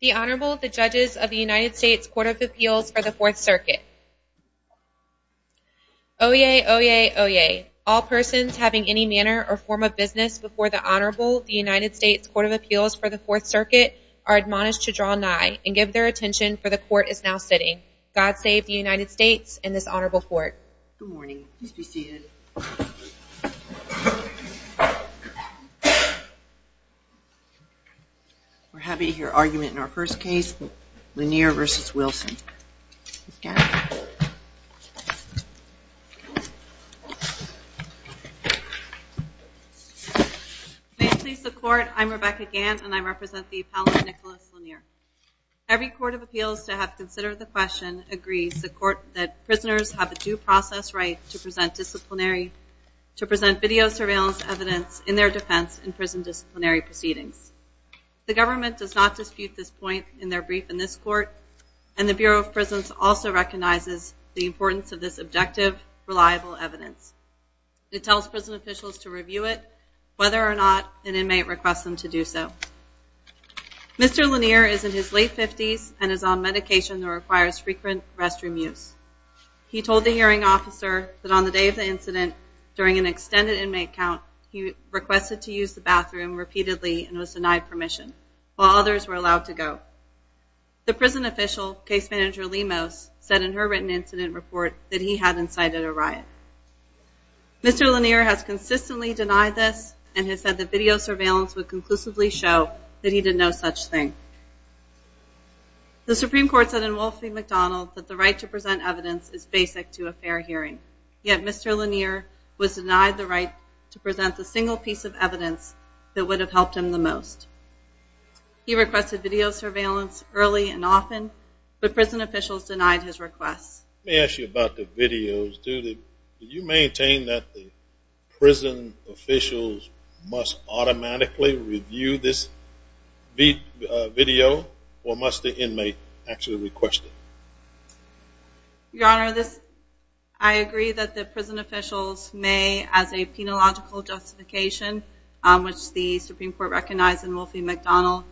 The Honorable the Judges of the United States Court of Appeals for the Fourth Circuit Oyez! Oyez! Oyez! All persons having any manner or form of business before the Honorable of the United States Court of Appeals for the Fourth Circuit are admonished to draw nigh, and give their attention, for the Court is now sitting. God save the United States and this Honorable Court. Good morning. Please be seated. We're happy to hear argument in our first case, Lennear v. Wilson. May it please the Court, I'm Rebecca Gant and I represent the Apollo Nicholas Lennear. Every Court of Appeals to have considered the question agrees the Court that prisoners have a due process right to present disciplinary, to present video surveillance evidence in their defense in prison disciplinary proceedings. The government does not dispute this point in their brief in this Court, and the Bureau of Prisons also recognizes the importance of this objective, reliable evidence. It tells prison officials to review it, whether or not an inmate requests them to do so. Mr. Lennear is in his late 50s and is on medication that requires frequent restroom use. He told the hearing officer that on the day of the incident, during an extended inmate count, he requested to use the bathroom repeatedly and was denied permission, while others were allowed to go. The prison official, Case Manager Lemos, said in her written incident report that he hadn't cited a riot. Mr. Lennear has consistently denied this and has said that video surveillance would conclusively show that he did no such thing. The Supreme Court said in Wolf v. McDonald that the right to present evidence is basic to a fair hearing, yet Mr. Lennear was denied the right to present the single piece of evidence that would have helped him the most. He requested video surveillance early and often, but prison officials denied his request. I agree that the prison officials may, as a penological justification, which the Supreme Court recognized in Wolf v. McDonald,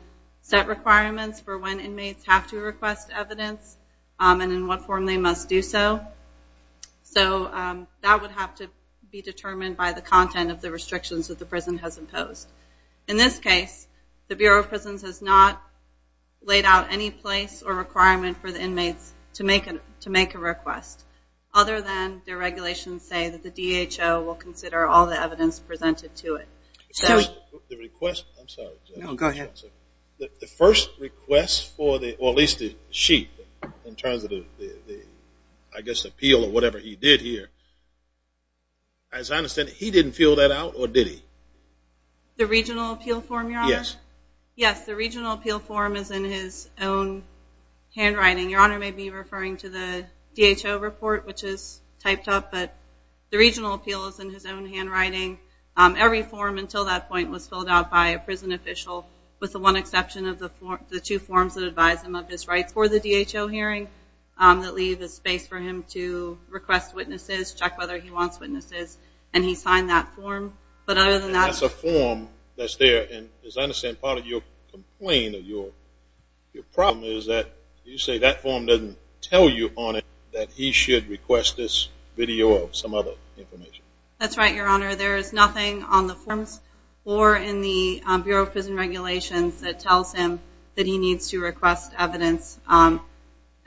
set requirements for when inmates have to request evidence and in what form they must do so. So that would have to be determined by the content of the restrictions that the prison has imposed. In this case, the Bureau of Prisons has not laid out any place or requirement for the inmates to make a request, other than their regulations say that the DHO will consider all the evidence presented to it. The first request for the sheet in terms of the appeal or whatever he did here, as I understand it, he didn't fill that out or did he? The regional appeal form, Your Honor? Yes. Yes, the regional appeal form is in his own handwriting. Your Honor may be referring to the DHO report, which is typed up, but the regional appeal is in his own handwriting. Every form until that point was filled out by a prison official, with the one exception of the two forms that advise him of his rights for the DHO hearing that leave the space for him to request witnesses, check whether he wants witnesses, and he signed that form. That's a form that's there, and as I understand, part of your complaint or your problem is that you say that form doesn't tell you on it that he should request this video or some other information. That's right, Your Honor. There is nothing on the forms or in the Bureau of Prison Regulations that tells him that he needs to request evidence at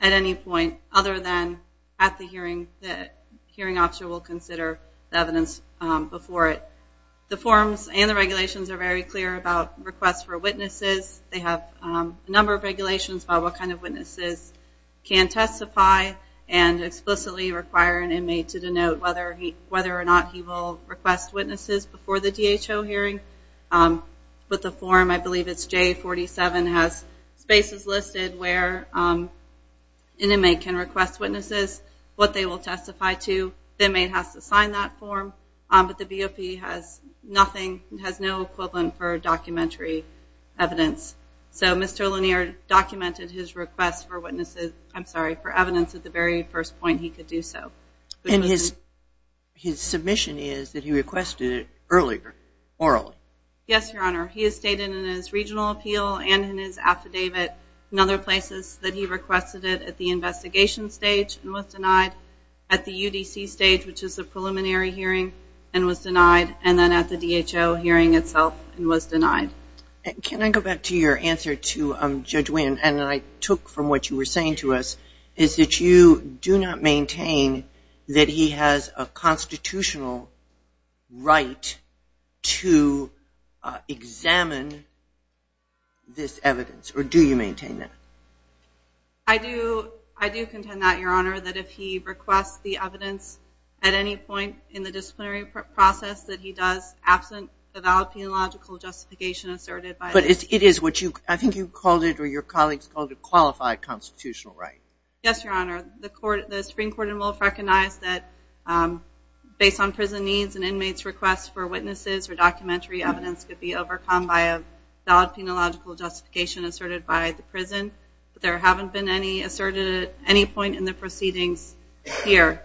any point other than at the hearing that the hearing officer will consider the evidence before it. The forms and the regulations are very clear about requests for witnesses. They have a number of regulations about what kind of witnesses can testify and explicitly require an inmate to denote whether or not he will request witnesses before the DHO hearing, but the form, I believe it's J47, has spaces listed where an inmate can request witnesses, what they will testify to. The inmate has to sign that form, but the BOP has nothing, has no equivalent for documentary evidence. So Mr. Lanier documented his request for witnesses, I'm sorry, for evidence at the very first point he could do so. And his submission is that he requested it earlier, orally. Yes, Your Honor. He has stated in his regional appeal and in his affidavit and other places that he requested it at the investigation stage and was denied, at the UDC stage, which is the preliminary hearing, and was denied, and then at the DHO hearing itself and was denied. Can I go back to your answer to Judge Winn, and I took from what you were saying to us, is that you do not maintain that he has a constitutional right to examine this evidence, or do you maintain that? I do contend that, Your Honor, that if he requests the evidence at any point in the disciplinary process that he does, absent the valid penological justification asserted by the Supreme Court. But it is what you, I think you called it, or your colleagues called it, a qualified constitutional right. Yes, Your Honor. The Supreme Court in Wolf recognized that based on prison needs, an inmate's request for witnesses or documentary evidence could be overcome by a valid penological justification asserted by the prison. But there haven't been any asserted at any point in the proceedings here.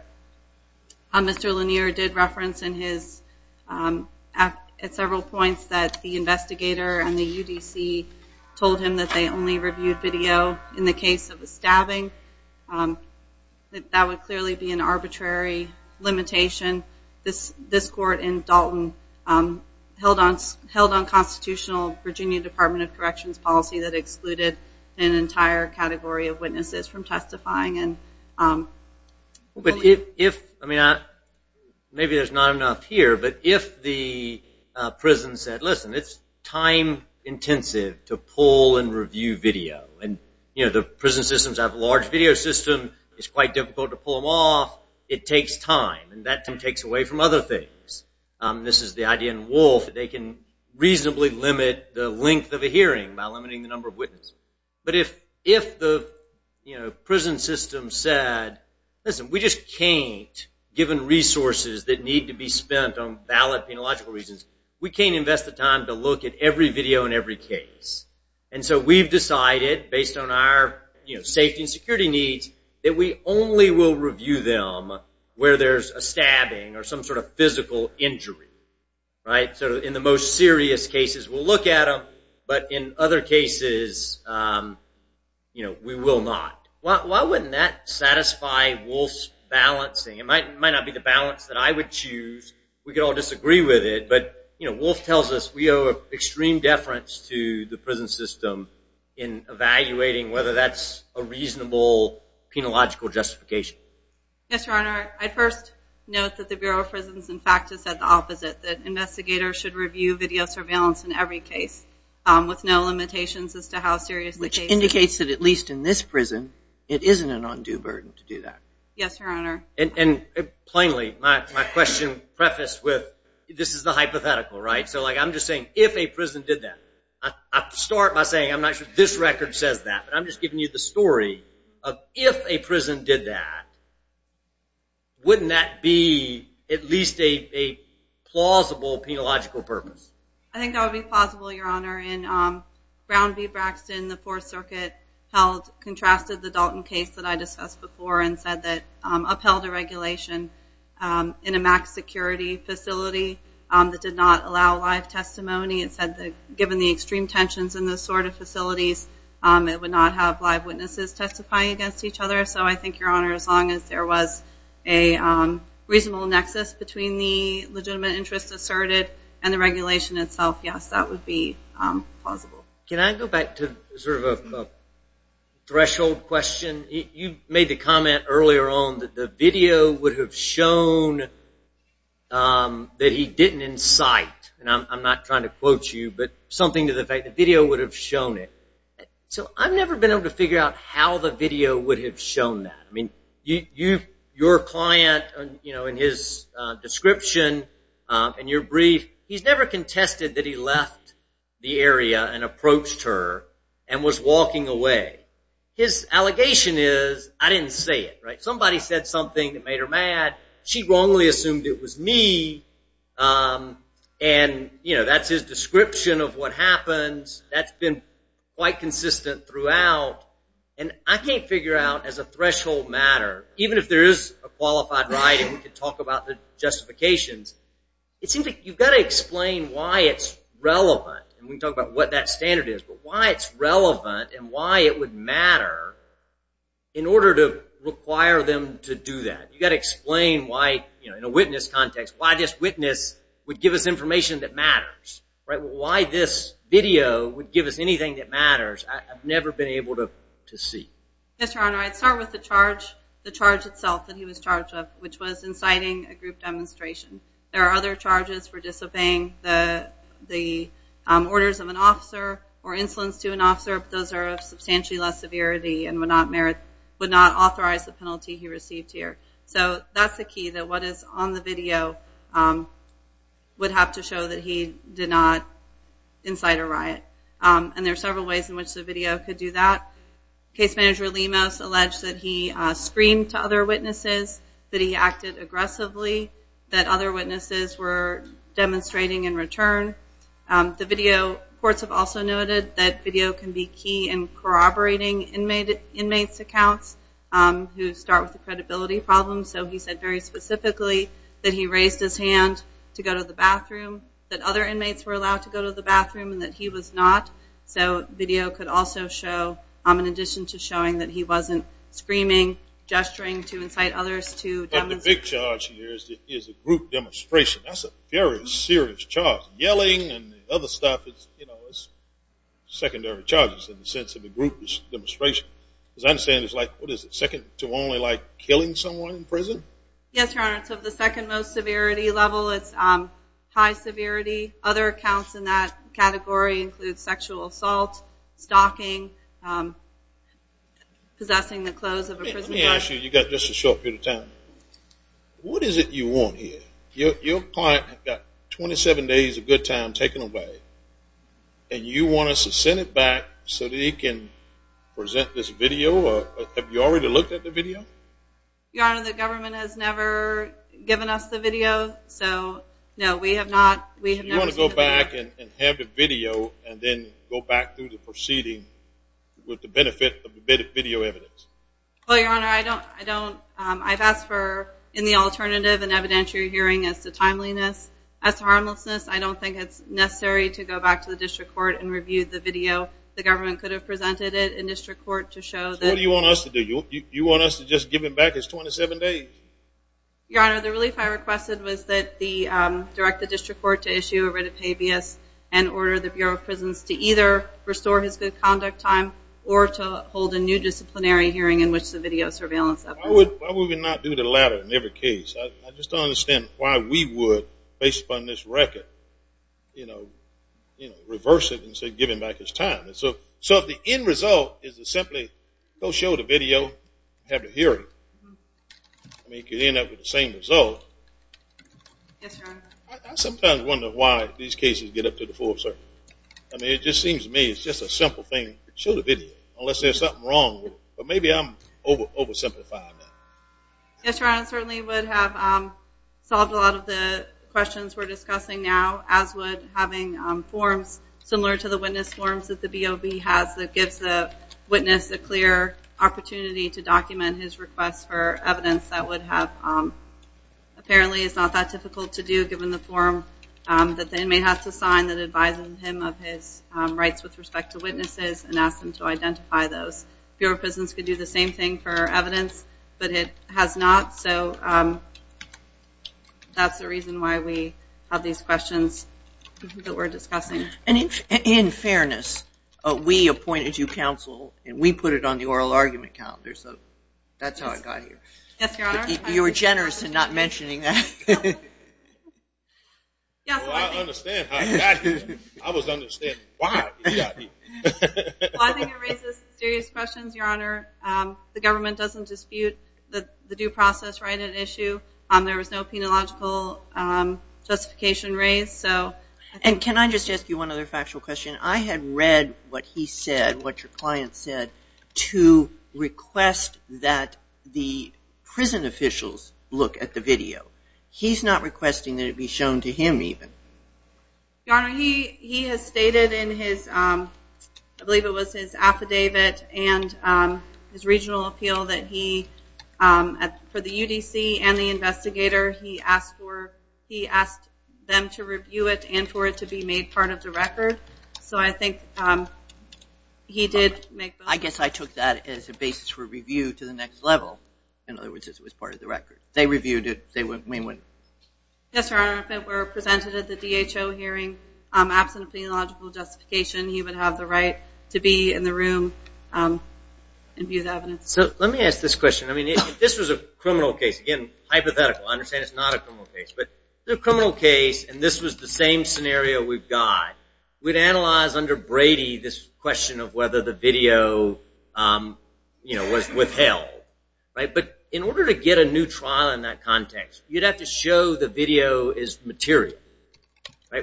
Mr. Lanier did reference in his, at several points, that the investigator and the UDC told him that they only reviewed video in the case of the stabbing. That would clearly be an arbitrary limitation. This court in Dalton held unconstitutional Virginia Department of Corrections policy that excluded an entire category of witnesses from testifying. But if, maybe there's not enough here, but if the prison said, listen, it's time intensive to pull and review video. And the prison systems have a large video system. It's quite difficult to pull them off. It takes time, and that time takes away from other things. This is the idea in Wolf. They can reasonably limit the length of a hearing by limiting the number of witnesses. But if the prison system said, listen, we just can't, given resources that need to be spent on valid penological reasons, we can't invest the time to look at every video in every case. And so we've decided, based on our safety and security needs, that we only will review them where there's a stabbing or some sort of physical injury. So in the most serious cases, we'll look at them. But in other cases, we will not. Why wouldn't that satisfy Wolf's balancing? It might not be the balance that I would choose. We could all disagree with it. But Wolf tells us we owe extreme deference to the prison system in evaluating whether that's a reasonable penological justification. Yes, Your Honor. I'd first note that the Bureau of Prisons, in fact, has said the opposite, that investigators should review video surveillance in every case with no limitations as to how serious the case is. Which indicates that, at least in this prison, it isn't an undue burden to do that. Yes, Your Honor. And plainly, my question prefaced with, this is the hypothetical, right? So, like, I'm just saying, if a prison did that. I start by saying, I'm not sure this record says that. But I'm just giving you the story of, if a prison did that, wouldn't that be at least a plausible penological purpose? I think that would be plausible, Your Honor. In Brown v. Braxton, the Fourth Circuit held, contrasted the Dalton case that I discussed before and said that, upheld a regulation in a max security facility that did not allow live testimony. It said that, given the extreme tensions in those sort of facilities, it would not have live witnesses testify against each other. So, I think, Your Honor, as long as there was a reasonable nexus between the legitimate interest asserted and the regulation itself, yes, that would be plausible. Can I go back to sort of a threshold question? You made the comment earlier on that the video would have shown that he didn't incite. And I'm not trying to quote you, but something to the effect that the video would have shown it. So, I've never been able to figure out how the video would have shown that. I mean, your client, you know, in his description, in your brief, he's never contested that he left the area and approached her and was walking away. His allegation is, I didn't say it, right? Somebody said something that made her mad. She wrongly assumed it was me. And, you know, that's his description of what happens. That's been quite consistent throughout. And I can't figure out, as a threshold matter, even if there is a qualified right and we can talk about the justifications, it seems like you've got to explain why it's relevant. And we can talk about what that standard is, but why it's relevant and why it would matter in order to require them to do that. You've got to explain why, in a witness context, why this witness would give us information that matters. Why this video would give us anything that matters. I've never been able to see. Yes, Your Honor, I'd start with the charge itself that he was charged with, which was inciting a group demonstration. There are other charges for disobeying the orders of an officer or insolence to an officer, but those are of substantially less severity and would not authorize the penalty he received here. So that's the key, that what is on the video would have to show that he did not incite a riot. And there are several ways in which the video could do that. Case Manager Lemos alleged that he screamed to other witnesses, that he acted aggressively, that other witnesses were demonstrating in return. The video, courts have also noted that video can be key in corroborating inmates' accounts who start with a credibility problem. So he said very specifically that he raised his hand to go to the bathroom, that other inmates were allowed to go to the bathroom and that he was not. So video could also show, in addition to showing that he wasn't screaming, gesturing to incite others to demonstrate. Another charge here is a group demonstration. That's a very serious charge. Yelling and other stuff is secondary charges in the sense of a group demonstration. Because I understand it's like, what is it, second to only like killing someone in prison? Yes, Your Honor, it's of the second most severity level. It's high severity. Other accounts in that category include sexual assault, stalking, possessing the clothes of a prison guard. Actually, you've got just a short period of time. What is it you want here? Your client has got 27 days of good time taken away, and you want us to send it back so that he can present this video? Have you already looked at the video? Your Honor, the government has never given us the video, so no, we have not. So you want to go back and have the video and then go back through the proceeding with the benefit of the video evidence? Well, Your Honor, I've asked for, in the alternative, an evidentiary hearing as to timeliness. As to harmlessness, I don't think it's necessary to go back to the district court and review the video. The government could have presented it in district court to show that... So what do you want us to do? You want us to just give him back his 27 days? Your Honor, the relief I requested was to direct the district court to issue a writ of habeas and order the Bureau of Prisons to either restore his good conduct time or to hold a new disciplinary hearing in which the video surveillance efforts... Why would we not do the latter in every case? I just don't understand why we would, based upon this record, reverse it and say give him back his time. So if the end result is to simply go show the video and have the hearing, you could end up with the same result. Yes, Your Honor. I sometimes wonder why these cases get up to the full circle. I mean, it just seems to me it's just a simple thing. Show the video, unless there's something wrong with it. But maybe I'm oversimplifying that. Yes, Your Honor, it certainly would have solved a lot of the questions we're discussing now, as would having forms similar to the witness forms that the BOB has that gives the witness a clear opportunity to document his request for evidence that would have... given the form that the inmate has to sign that advises him of his rights with respect to witnesses and asks him to identify those. Bureau of Prisons could do the same thing for evidence, but it has not. So that's the reason why we have these questions that we're discussing. In fairness, we appointed you counsel, and we put it on the oral argument calendar, so that's how I got here. Yes, Your Honor. You were generous in not mentioning that. Well, I understand how you got here. I was understanding why you got here. Well, I think it raises serious questions, Your Honor. The government doesn't dispute the due process right at issue. There was no penological justification raised. And can I just ask you one other factual question? I had read what he said, what your client said, to request that the prison officials look at the video. He's not requesting that it be shown to him even. Your Honor, he has stated in his, I believe it was his affidavit and his regional appeal that he, for the UDC and the investigator, he asked them to review it and for it to be made part of the record. So I think he did make both. I guess I took that as a basis for review to the next level. In other words, it was part of the record. They reviewed it. Yes, Your Honor. If it were presented at the DHO hearing absent a penological justification, he would have the right to be in the room and view the evidence. So let me ask this question. I mean, if this was a criminal case, again, hypothetical. I understand it's not a criminal case. But in a criminal case, and this was the same scenario we've got, we'd analyze under Brady this question of whether the video was withheld. But in order to get a new trial in that context, you'd have to show the video is material,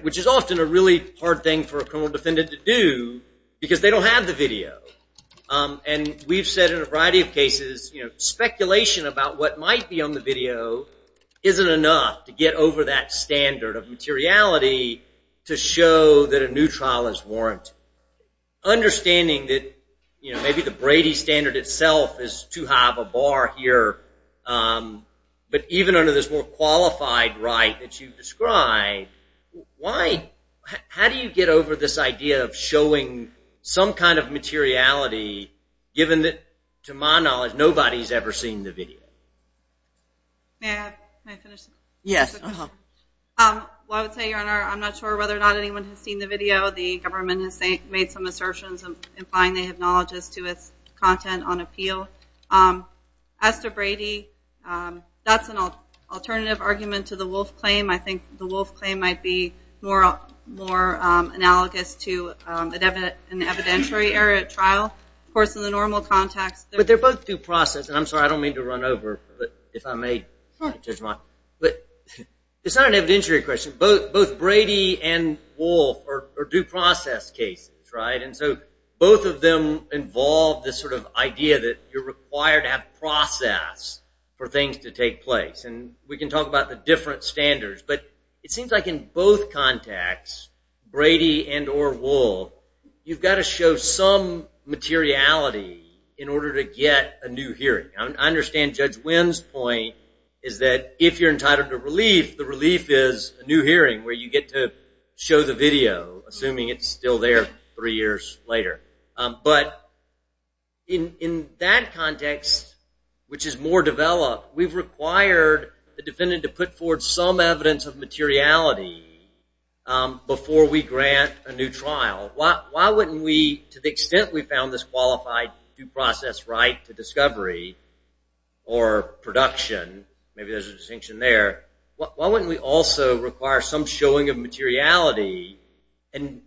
which is often a really hard thing for a criminal defendant to do because they don't have the video. And we've said in a variety of cases, speculation about what might be on the video isn't enough to get over that standard of materiality to show that a new trial is warranted. Understanding that maybe the Brady standard itself is too high of a bar here, but even under this more qualified right that you've described, how do you get over this idea of showing some kind of materiality, given that, to my knowledge, nobody's ever seen the video? May I finish? Yes. Well, I would say, Your Honor, I'm not sure whether or not anyone has seen the video. The government has made some assertions implying they have knowledge as to its content on appeal. As to Brady, that's an alternative argument to the Wolf Claim. I think the Wolf Claim might be more analogous to an evidentiary error at trial. Of course, in the normal context. But they're both due process. And I'm sorry, I don't mean to run over, if I may, Judge Mott. But it's not an evidentiary question. Both Brady and Wolf are due process cases, right? And so both of them involve this sort of idea that you're required to have process for things to take place. And we can talk about the different standards. But it seems like in both contexts, Brady and or Wolf, you've got to show some materiality in order to get a new hearing. I understand Judge Wynn's point is that if you're entitled to relief, the relief is a new hearing, where you get to show the video, assuming it's still there three years later. But in that context, which is more developed, we've required the defendant to put forward some evidence of materiality before we grant a new trial. Why wouldn't we, to the extent we found this qualified due process right to discovery or production, maybe there's a distinction there, why wouldn't we also require some showing of materiality? And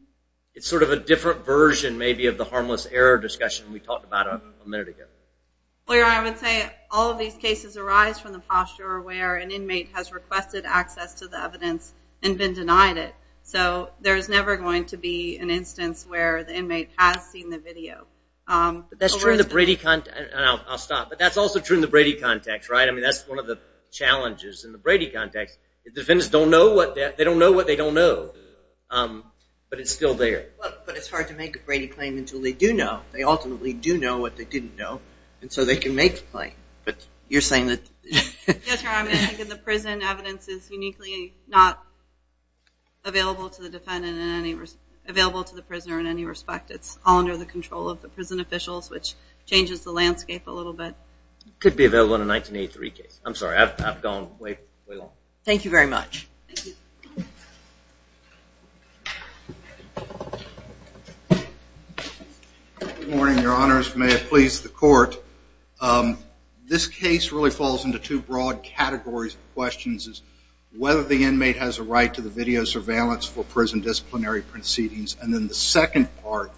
it's sort of a different version maybe of the harmless error discussion we talked about a minute ago. I would say all of these cases arise from the posture where an inmate has requested access to the evidence and been denied it. So there's never going to be an instance where the inmate has seen the video. That's true in the Brady context, and I'll stop. But that's also true in the Brady context, right? I mean, that's one of the challenges in the Brady context. Defendants don't know what they don't know, but it's still there. But it's hard to make a Brady claim until they do know. They ultimately do know what they didn't know, and so they can make the claim. But you're saying that... Yes, Your Honor, I'm thinking the prison evidence is uniquely not available to the defendant in any... available to the prisoner in any respect. It's all under the control of the prison officials, which changes the landscape a little bit. Could be available in a 1983 case. I'm sorry, I've gone way, way long. Thank you very much. Good morning, Your Honors. May it please the Court. This case really falls into two broad categories of questions. It's whether the inmate has a right to the video surveillance for prison disciplinary proceedings, and then the second part,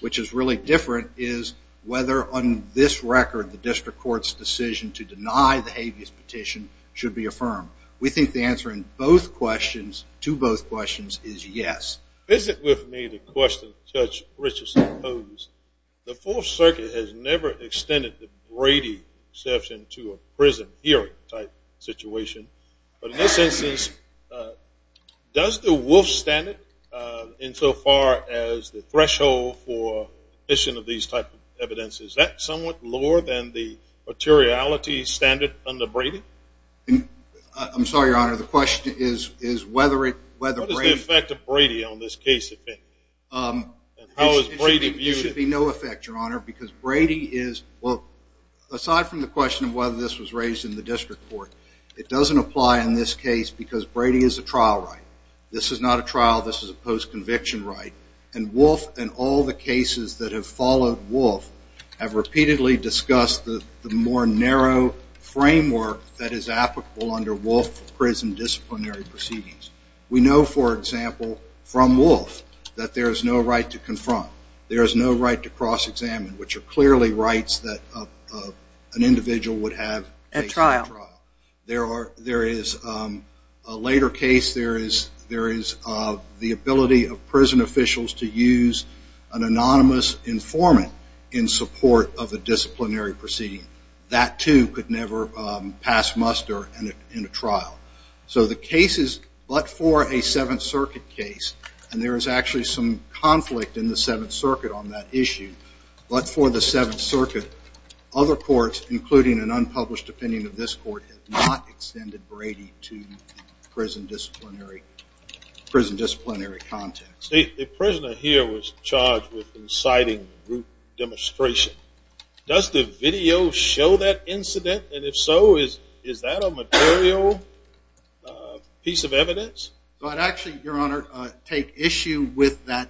which is really different, is whether on this record the district court's decision to deny the habeas petition should be affirmed. We think the answer in both questions, to both questions, is yes. Visit with me the question Judge Richardson posed. The Fourth Circuit has never extended the Brady exception to a prison hearing type situation. But in this instance, does the Wolf standard insofar as the threshold for admission of these type of evidences, is that somewhat lower than the materiality standard under Brady? I'm sorry, Your Honor, the question is whether Brady... What is the effect of Brady on this case? There should be no effect, Your Honor, because Brady is... well, aside from the question of whether this was raised in the district court, it doesn't apply in this case because Brady is a trial right. This is not a trial, this is a post-conviction right. And Wolf and all the cases that have followed Wolf have repeatedly discussed the more narrow framework that is applicable under Wolf for prison disciplinary proceedings. We know, for example, from Wolf that there is no right to confront, there is no right to cross-examine, which are clearly rights that an individual would have at trial. There is a later case, there is the ability of prison officials to use an anonymous informant in support of a disciplinary proceeding. That, too, could never pass muster in a trial. So the cases, but for a Seventh Circuit case, and there is actually some conflict in the Seventh Circuit on that issue, but for the Seventh Circuit, other courts, including an unpublished opinion of this court, have not extended Brady to the prison disciplinary context. The prisoner here was charged with inciting group demonstration. Does the video show that incident? And if so, is that a material piece of evidence? I'd actually, Your Honor, take issue with that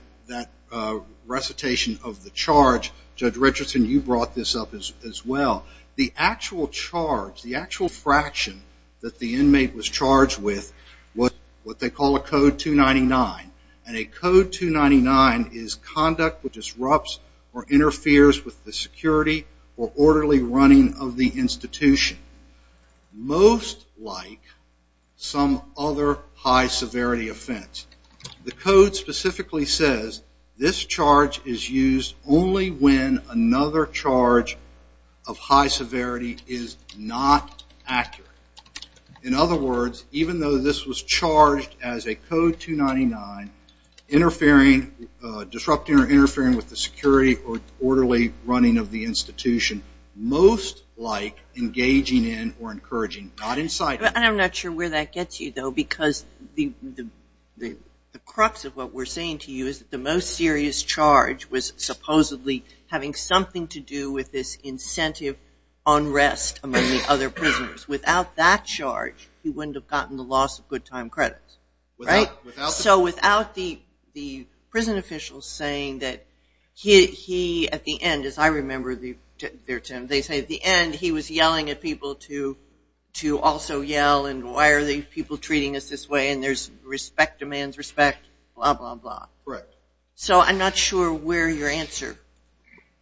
recitation of the charge. Judge Richardson, you brought this up as well. The actual charge, the actual fraction that the inmate was charged with was what they call a Code 299. And a Code 299 is conduct which disrupts or interferes with the security or orderly running of the institution. Most like some other high severity offense. The Code specifically says this charge is used only when another charge of high severity is not accurate. In other words, even though this was charged as a Code 299, interfering, disrupting or interfering with the security or orderly running of the institution, most like engaging in or encouraging, not inciting. And I'm not sure where that gets you, though, because the crux of what we're saying to you is that the most serious charge was supposedly having something to do with this incentive unrest among the other prisoners. Without that charge, he wouldn't have gotten the loss of good time credits, right? So without the prison officials saying that he, at the end, as I remember their term, they say at the end he was yelling at people to also yell and why are the people treating us this way and there's respect demands respect, blah, blah, blah. Correct. So I'm not sure where your answer,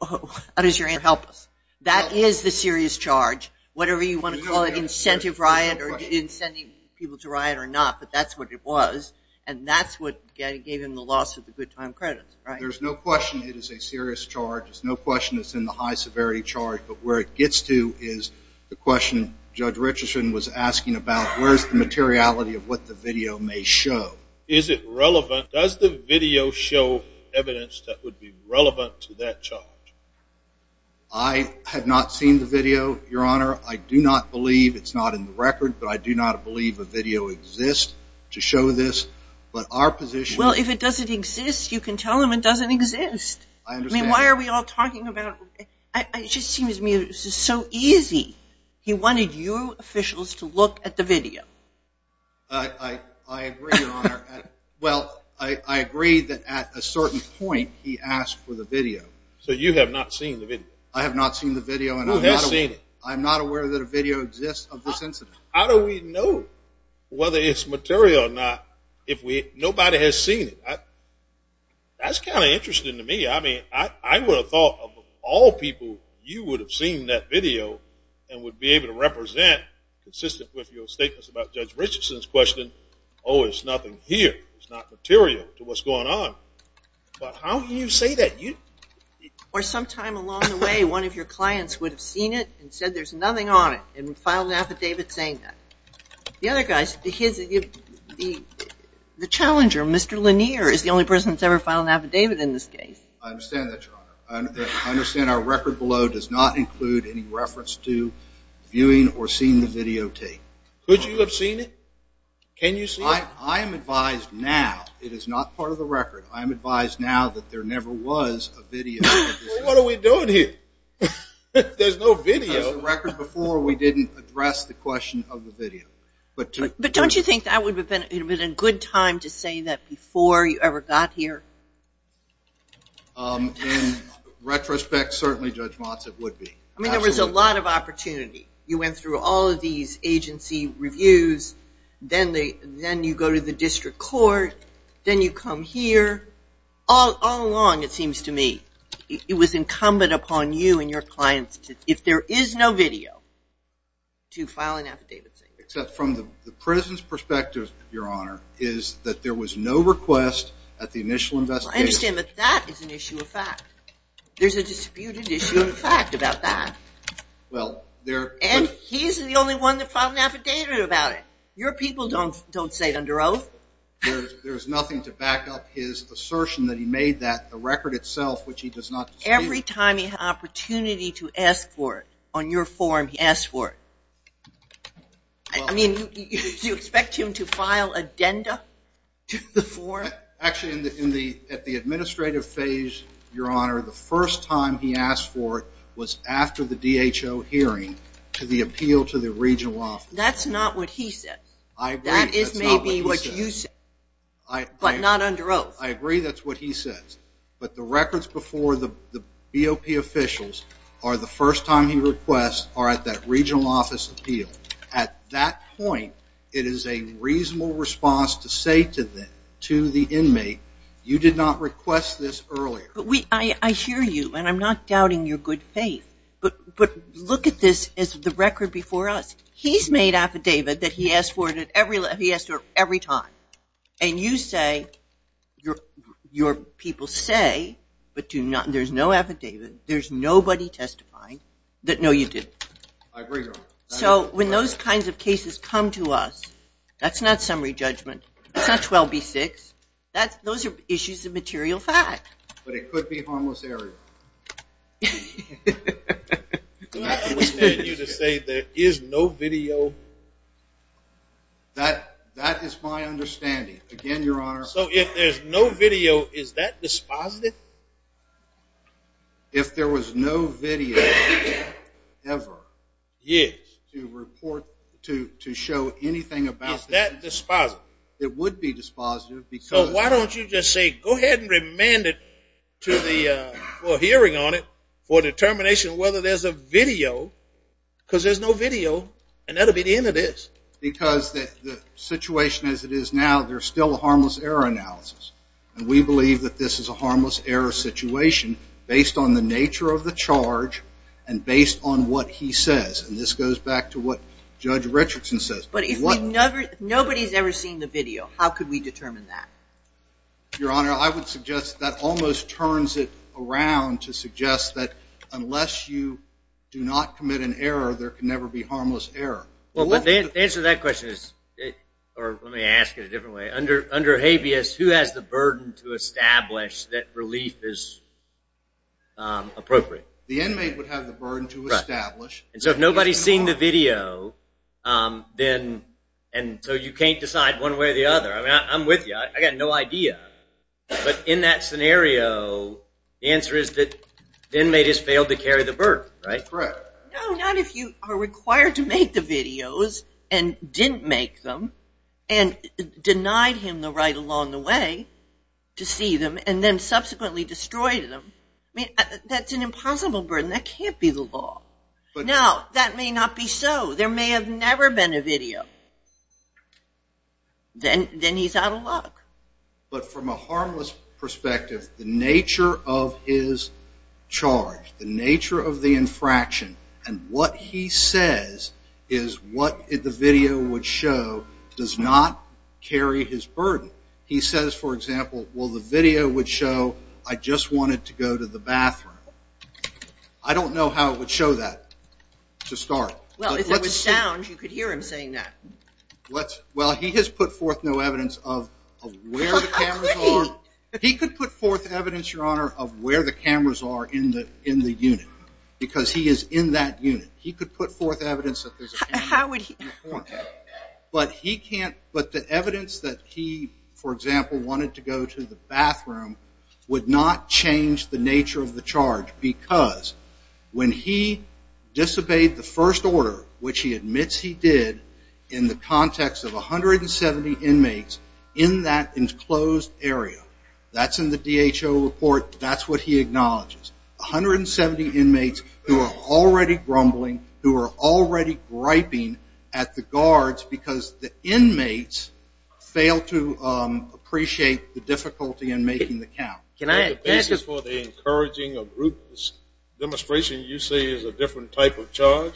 how does your answer help us? That is the serious charge, whatever you want to call it, incentive riot or inciting people to riot or not, but that's what it was and that's what gave him the loss of the good time credits, right? There's no question it is a serious charge. There's no question it's in the high severity charge, but where it gets to is the question Judge Richardson was asking about where's the materiality of what the video may show. Is it relevant? Does the video show evidence that would be relevant to that charge? I have not seen the video, Your Honor. I do not believe it's not in the record, but I do not believe a video exists to show this, but our position Well, if it doesn't exist, you can tell them it doesn't exist. I understand. I mean, why are we all talking about it? It just seems to me this is so easy. I agree, Your Honor. Well, I agree that at a certain point he asked for the video. So you have not seen the video? I have not seen the video. Who has seen it? I'm not aware that a video exists of this incident. How do we know whether it's material or not if nobody has seen it? That's kind of interesting to me. I mean, I would have thought of all people you would have seen that video and would be able to represent consistent with your statements about Judge Richardson's question, oh, it's nothing here. It's not material to what's going on. But how can you say that? Or sometime along the way one of your clients would have seen it and said there's nothing on it and filed an affidavit saying that. The other guy, the challenger, Mr. Lanier, is the only person that's ever filed an affidavit in this case. I understand that, Your Honor. I understand our record below does not include any reference to viewing or seeing the videotape. Could you have seen it? Can you see it? I am advised now, it is not part of the record, I am advised now that there never was a video. Well, what are we doing here? There's no video. That was the record before we didn't address the question of the video. But don't you think that would have been a good time to say that before you ever got here? In retrospect, certainly, Judge Motz, it would be. I mean, there was a lot of opportunity. You went through all of these agency reviews. Then you go to the district court. Then you come here. All along, it seems to me, it was incumbent upon you and your clients, if there is no video, to file an affidavit. Except from the President's perspective, Your Honor, is that there was no request at the initial investigation. I understand that that is an issue of fact. There's a disputed issue of fact about that. And he's the only one that filed an affidavit about it. Your people don't say it under oath. There's nothing to back up his assertion that he made that. The record itself, which he does not dispute. Every time he had an opportunity to ask for it, on your form, he asked for it. I mean, do you expect him to file addenda to the form? Actually, at the administrative phase, Your Honor, the first time he asked for it was after the DHO hearing to the appeal to the regional office. That's not what he said. I agree. That is maybe what you said, but not under oath. I agree that's what he said. But the records before the BOP officials are the first time he requests are at that regional office appeal. At that point, it is a reasonable response to say to the inmate, you did not request this earlier. I hear you, and I'm not doubting your good faith. But look at this as the record before us. He's made affidavit that he asked for it every time. And you say, your people say, but there's no affidavit, there's nobody testifying, that no, you didn't. I agree, Your Honor. So when those kinds of cases come to us, that's not summary judgment. That's not 12B6. Those are issues of material fact. But it could be harmless area. I understand you to say there is no video. That is my understanding. Again, Your Honor. So if there's no video, is that dispositive? If there was no video ever. Yes. To report, to show anything about that. Is that dispositive? It would be dispositive. So why don't you just say, go ahead and remand it to the hearing on it for determination whether there's a video. Because there's no video, and that will be the end of this. Because the situation as it is now, there's still a harmless error analysis. And we believe that this is a harmless error situation based on the nature of the charge and based on what he says. And this goes back to what Judge Richardson says. But if nobody's ever seen the video, how could we determine that? Your Honor, I would suggest that almost turns it around to suggest that unless you do not commit an error, there can never be harmless error. Well, the answer to that question is, or let me ask it a different way. Under habeas, who has the burden to establish that relief is appropriate? The inmate would have the burden to establish. So if nobody's seen the video, and so you can't decide one way or the other. I'm with you. I've got no idea. But in that scenario, the answer is that the inmate has failed to carry the burden, right? Correct. No, not if you are required to make the videos and didn't make them and denied him the right along the way to see them and then subsequently destroyed them. That's an impossible burden. That can't be the law. Now, that may not be so. There may have never been a video. Then he's out of luck. But from a harmless perspective, the nature of his charge, the nature of the infraction, and what he says is what the video would show does not carry his burden. He says, for example, well, the video would show I just wanted to go to the bathroom. I don't know how it would show that to start. Well, if it was sound, you could hear him saying that. Well, he has put forth no evidence of where the cameras are. He could put forth evidence, Your Honor, of where the cameras are in the unit because he is in that unit. He could put forth evidence that there's a camera in the corner. But the evidence that he, for example, wanted to go to the bathroom would not change the nature of the charge because when he disobeyed the first order, which he admits he did in the context of 170 inmates in that enclosed area, that's in the DHO report. That's what he acknowledges. 170 inmates who are already grumbling, who are already griping at the guards because the inmates fail to appreciate the difficulty in making the count. Can I add to that? Is the basis for the encouraging of group demonstration you say is a different type of charge?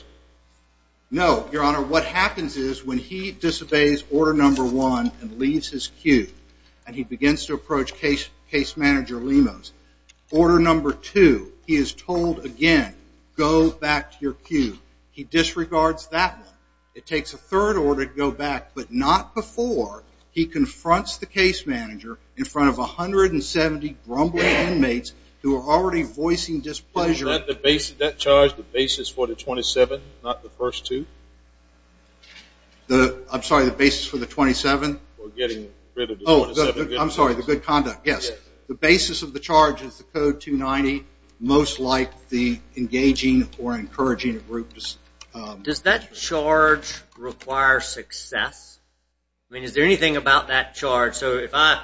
No, Your Honor. What happens is when he disobeys order number one and leaves his queue and he begins to approach case manager Lemos, order number two, he is told again, go back to your queue. He disregards that one. It takes a third order to go back, but not before he confronts the case manager in front of 170 grumbling inmates who are already voicing displeasure. Is that charge the basis for the 27, not the first two? I'm sorry, the basis for the 27? For getting rid of the 27. I'm sorry, the good conduct, yes. The basis of the charge is the Code 290, most like the engaging or encouraging of groups. Does that charge require success? I mean, is there anything about that charge? So if I,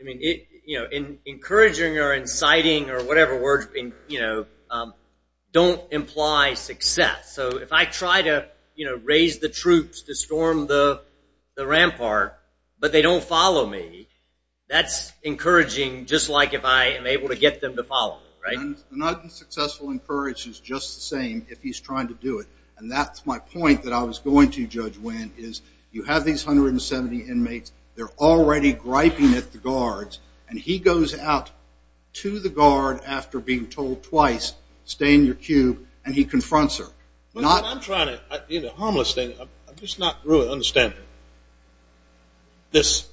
you know, encouraging or inciting or whatever words, you know, don't imply success. So if I try to, you know, raise the troops to storm the rampart, but they don't follow me, that's encouraging just like if I am able to get them to follow me, right? Not being successful in courage is just the same if he's trying to do it. And that's my point that I was going to judge when is you have these 170 inmates. They're already griping at the guards. And he goes out to the guard after being told twice, stay in your cube, and he confronts her. I'm trying to, in a harmless thing, I'm just not really understanding this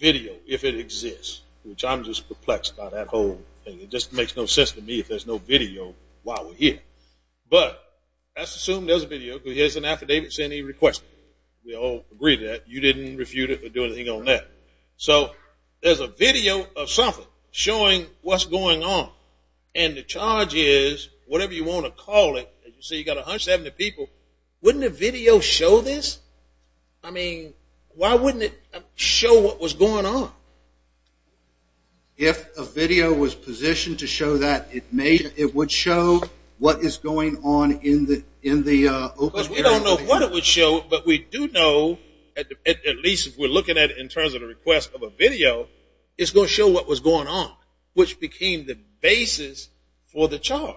video if it exists, which I'm just perplexed by that whole thing. It just makes no sense to me if there's no video while we're here. But let's assume there's a video because here's an affidavit saying he requested it. We all agree to that. You didn't refute it or do anything on that. So there's a video of something showing what's going on. And the charge is, whatever you want to call it, you see you've got 170 people. Wouldn't a video show this? I mean, why wouldn't it show what was going on? If a video was positioned to show that, it would show what is going on in the open area. Because we don't know what it would show, but we do know, at least if we're looking at it in terms of the request of a video, it's going to show what was going on, which became the basis for the charge.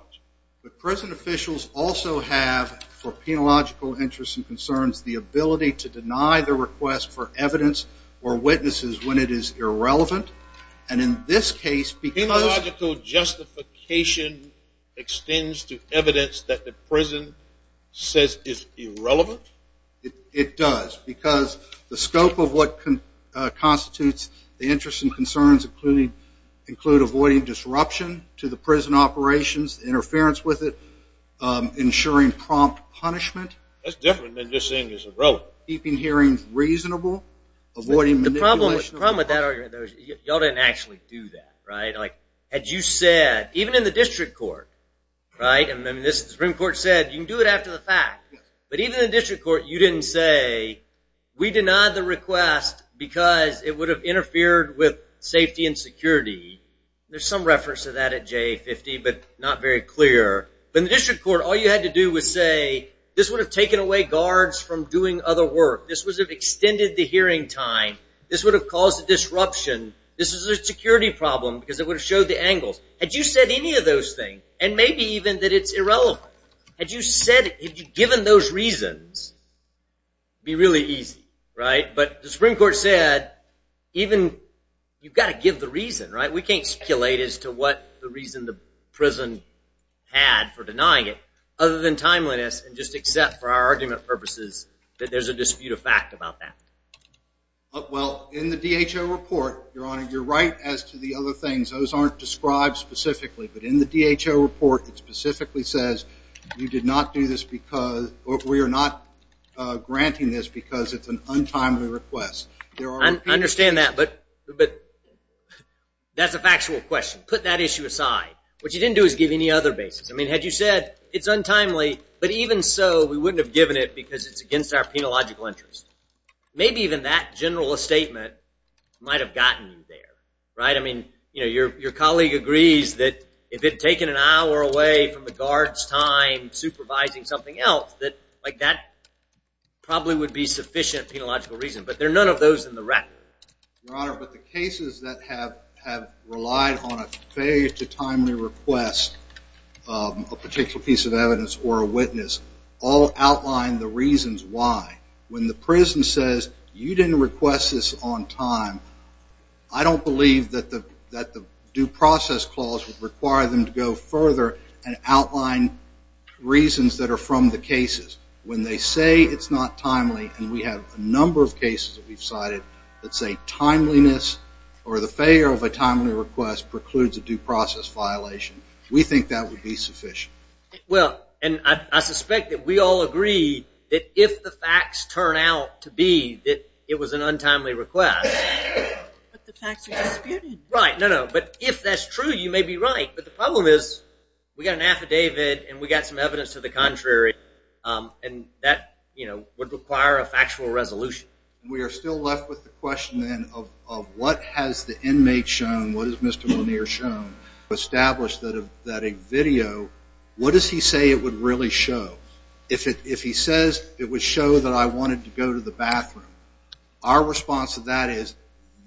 But prison officials also have, for penological interests and concerns, the ability to deny the request for evidence or witnesses when it is irrelevant. Penological justification extends to evidence that the prison says is irrelevant? It does. Because the scope of what constitutes the interests and concerns include avoiding disruption to the prison operations, interference with it, ensuring prompt punishment. That's different than just saying it's irrelevant. Keeping hearings reasonable, avoiding manipulation. The problem with that argument, y'all didn't actually do that, right? Had you said, even in the district court, right? And the Supreme Court said, you can do it after the fact. But even in the district court, you didn't say, we denied the request because it would have interfered with safety and security. There's some reference to that at JA-50, but not very clear. But in the district court, all you had to do was say, this would have taken away guards from doing other work. This would have extended the hearing time. This would have caused a disruption. This is a security problem because it would have showed the angles. Had you said any of those things, and maybe even that it's irrelevant, had you given those reasons, it would be really easy, right? But the Supreme Court said, you've got to give the reason, right? We can't speculate as to what the reason the prison had for denying it other than timeliness and just accept, for our argument purposes, that there's a dispute of fact about that. Well, in the DHO report, Your Honor, you're right as to the other things. Those aren't described specifically. But in the DHO report, it specifically says, we are not granting this because it's an untimely request. I understand that, but that's a factual question. Put that issue aside. What you didn't do is give any other basis. I mean, had you said, it's untimely, but even so, we wouldn't have given it because it's against our penological interest. Maybe even that general statement might have gotten you there, right? I mean, your colleague agrees that if it had taken an hour away from the guard's time supervising something else, that probably would be sufficient penological reason. But there are none of those in the record. Your Honor, but the cases that have relied on a failure to timely request a particular piece of evidence or a witness all outline the reasons why. When the prison says, you didn't request this on time, I don't believe that the due process clause would require them to go further and outline reasons that are from the cases. When they say it's not timely, and we have a number of cases that we've cited that say timeliness or the failure of a timely request precludes a due process violation, we think that would be sufficient. Well, and I suspect that we all agree that if the facts turn out to be that it was an untimely request. But the facts are disputed. Right. No, no. But if that's true, you may be right. But the problem is we got an affidavit and we got some evidence to the contrary. And that would require a factual resolution. We are still left with the question then of what has the inmate shown, what has Mr. Lanier shown, established that a video, what does he say it would really show? If he says it would show that I wanted to go to the bathroom, our response to that is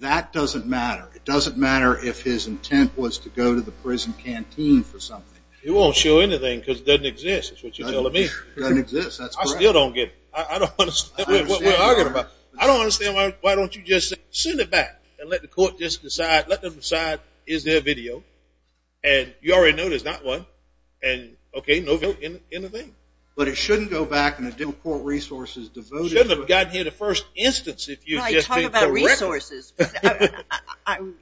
that doesn't matter. It doesn't matter if his intent was to go to the prison canteen for something. It won't show anything because it doesn't exist is what you're telling me. It doesn't exist. That's correct. I still don't get it. I don't understand what we're arguing about. I don't understand why don't you just send it back and let the court just decide, let them decide is there a video. And you already know there's not one. And, okay, no video in the thing. But it shouldn't go back and it didn't report resources devoted to it. It shouldn't have gotten here the first instance if you just didn't correct it. Well, I talk about resources.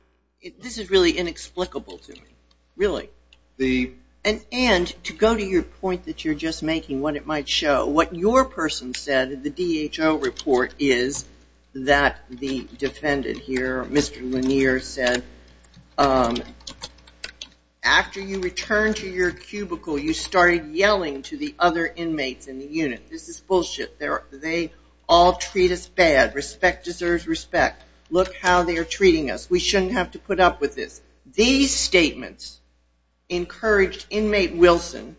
This is really inexplicable to me, really. And to go to your point that you're just making, what it might show, what your person said in the DHO report is that the defendant here, Mr. Lanier, said after you return to your cubicle you started yelling to the other inmates in the unit. This is bullshit. They all treat us bad. Respect deserves respect. Look how they're treating us. We shouldn't have to put up with this. These statements encouraged inmate Wilson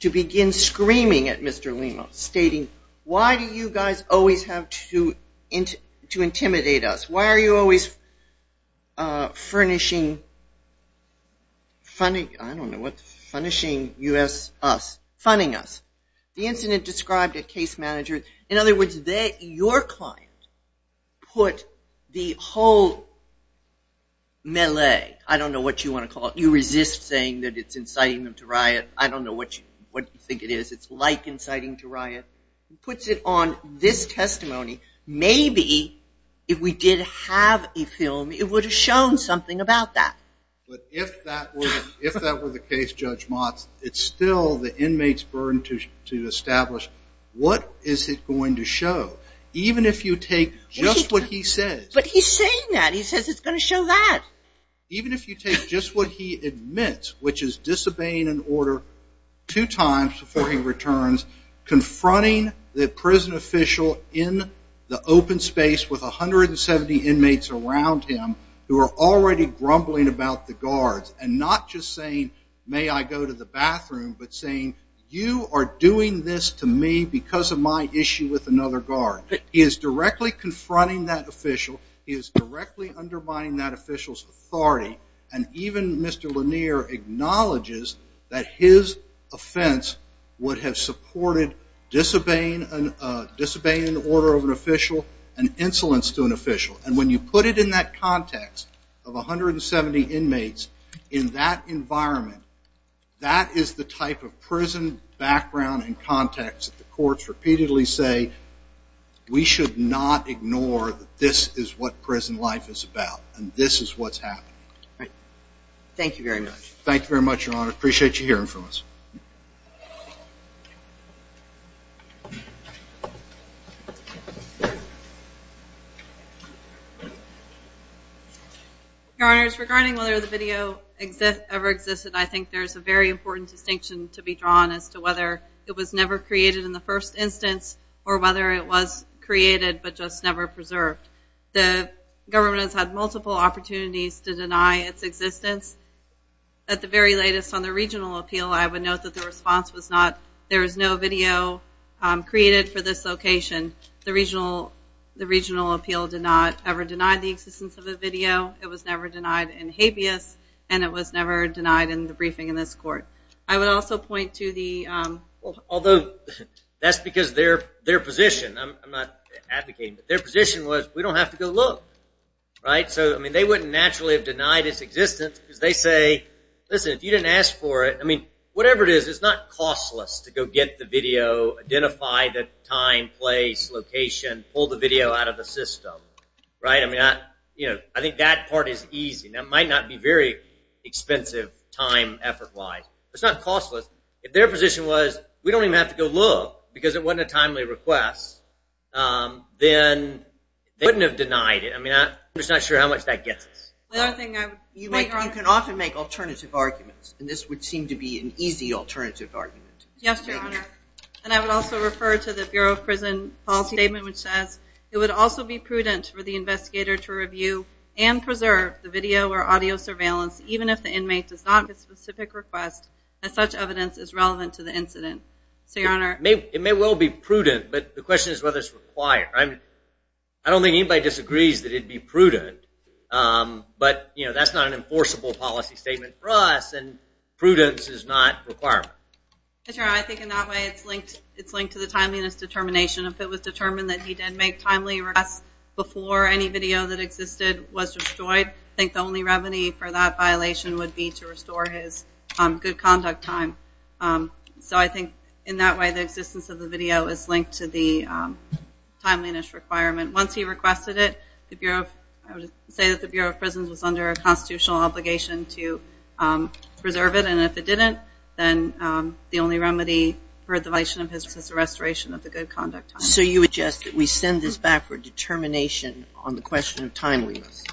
to begin screaming at Mr. Lemos, stating, why do you guys always have to intimidate us? Why are you always furnishing, I don't know what, furnishing us, funding us. The incident described a case manager, in other words, your client put the whole melee, I don't know what you want to call it, you resist saying that it's inciting them to riot. I don't know what you think it is. It's like inciting to riot. He puts it on this testimony. Maybe if we did have a film it would have shown something about that. But if that were the case, Judge Motz, it's still the inmate's burden to establish what is it going to show. Even if you take just what he says. But he's saying that. He says it's going to show that. Even if you take just what he admits, which is disobeying an order two times before he returns, confronting the prison official in the open space with 170 inmates around him who are already grumbling about the guards and not just saying, may I go to the bathroom, but saying you are doing this to me because of my issue with another guard. He is directly confronting that official. He is directly undermining that official's authority. And even Mr. Lanier acknowledges that his offense would have supported disobeying an order of an official and insolence to an official. And when you put it in that context of 170 inmates in that environment, that is the type of prison background and context that the courts repeatedly say we should not ignore that this is what prison life is about and this is what's happening. All right. Thank you very much. Thank you very much, Your Honor. I appreciate you hearing from us. Your Honors, regarding whether the video ever existed, I think there is a very important distinction to be drawn as to whether it was never created in the first instance or whether it was created but just never preserved. The government has had multiple opportunities to deny its existence. At the very latest on the regional appeal, I would note that the response was not there is no video created for this location. The regional appeal did not ever deny the existence of a video. It was never denied in habeas and it was never denied in the briefing in this court. I would also point to the – Although that's because their position, I'm not advocating, but their position was we don't have to go look. They wouldn't naturally have denied its existence because they say, listen, if you didn't ask for it, whatever it is, it's not costless to go get the video, identify the time, place, location, pull the video out of the system. I think that part is easy. That might not be very expensive time, effort-wise. It's not costless. If their position was we don't even have to go look because it wasn't a timely request, then they wouldn't have denied it. I'm just not sure how much that gets us. You can often make alternative arguments, and this would seem to be an easy alternative argument. Yes, Your Honor. And I would also refer to the Bureau of Prison Policy Statement, which says it would also be prudent for the investigator to review and preserve the video or audio surveillance, even if the inmate does not make a specific request, as such evidence is relevant to the incident. It may well be prudent, but the question is whether it's required. I don't think anybody disagrees that it would be prudent, but that's not an enforceable policy statement for us, and prudence is not a requirement. Yes, Your Honor. I think in that way it's linked to the timeliness determination. If it was determined that he did make timely requests before any video that existed was destroyed, I think the only remedy for that violation would be to restore his good conduct time. So I think in that way the existence of the video is linked to the timeliness requirement. Once he requested it, I would say that the Bureau of Prisons was under a constitutional obligation to preserve it, and if it didn't then the only remedy for the violation of his was the restoration of the good conduct time. So you would suggest that we send this back for determination on the question of timeliness.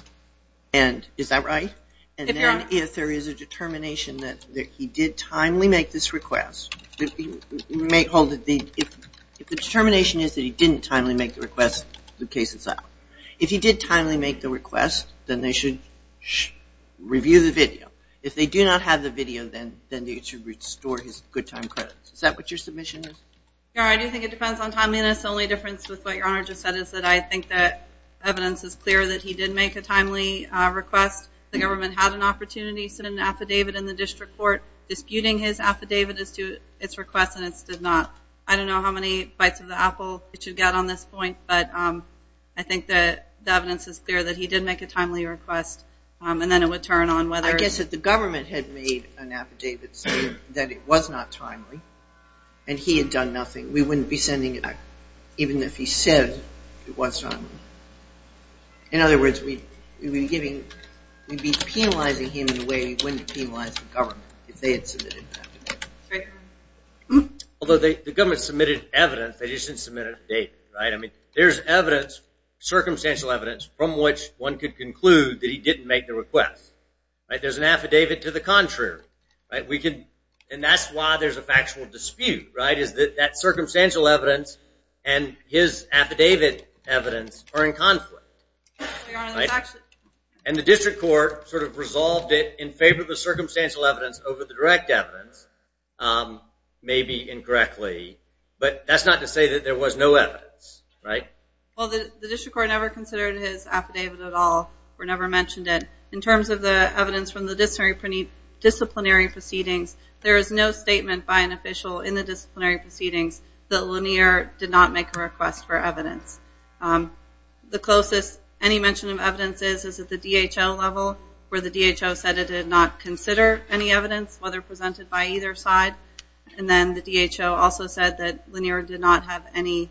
Is that right? If Your Honor. If the determination is that he did timely make this request, if the determination is that he didn't timely make the request, the case is out. If he did timely make the request, then they should review the video. If they do not have the video, then they should restore his good time credits. Is that what your submission is? Your Honor, I do think it depends on timeliness. The only difference with what Your Honor just said is that I think that evidence is clear that he did make a timely request. The government had an opportunity to send an affidavit in the district court disputing his affidavit as to its request and it stood not. I don't know how many bites of the apple it should get on this point, but I think that the evidence is clear that he did make a timely request and then it would turn on whether. I guess that the government had made an affidavit saying that it was not timely and he had done nothing. We wouldn't be sending it back even if he said it was timely. In other words, we would be penalizing him in the way we would penalize the government if they had submitted an affidavit. Although the government submitted evidence, they just didn't submit a date. There's evidence, circumstantial evidence, from which one could conclude that he didn't make the request. There's an affidavit to the contrary. That's why there's a factual dispute is that that circumstantial evidence and his affidavit evidence are in conflict. And the district court sort of resolved it in favor of the circumstantial evidence over the direct evidence, maybe incorrectly. But that's not to say that there was no evidence, right? Well, the district court never considered his affidavit at all or never mentioned it. In terms of the evidence from the disciplinary proceedings, there is no statement by an official in the disciplinary proceedings that Lanier did not make a request for evidence. The closest any mention of evidence is at the DHL level, where the DHL said it did not consider any evidence, whether presented by either side. And then the DHL also said that Lanier did not have any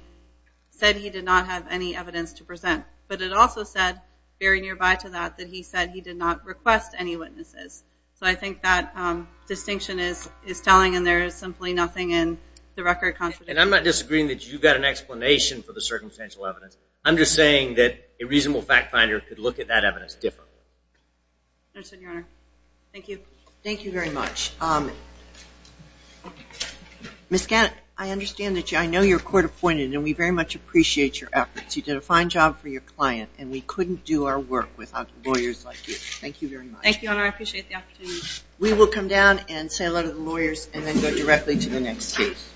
evidence to present. But it also said, very nearby to that, that he said he did not request any witnesses. So I think that distinction is telling, and there is simply nothing in the record contradicting it. And I'm not disagreeing that you've got an explanation for the circumstantial evidence. I'm just saying that a reasonable fact finder could look at that evidence differently. Understood, Your Honor. Thank you. Thank you very much. Ms. Gannett, I understand that you're court-appointed, and we very much appreciate your efforts. You did a fine job for your client, and we couldn't do our work without lawyers like you. Thank you very much. Thank you, Your Honor. I appreciate the opportunity. We will come down and say hello to the lawyers and then go directly to the next case.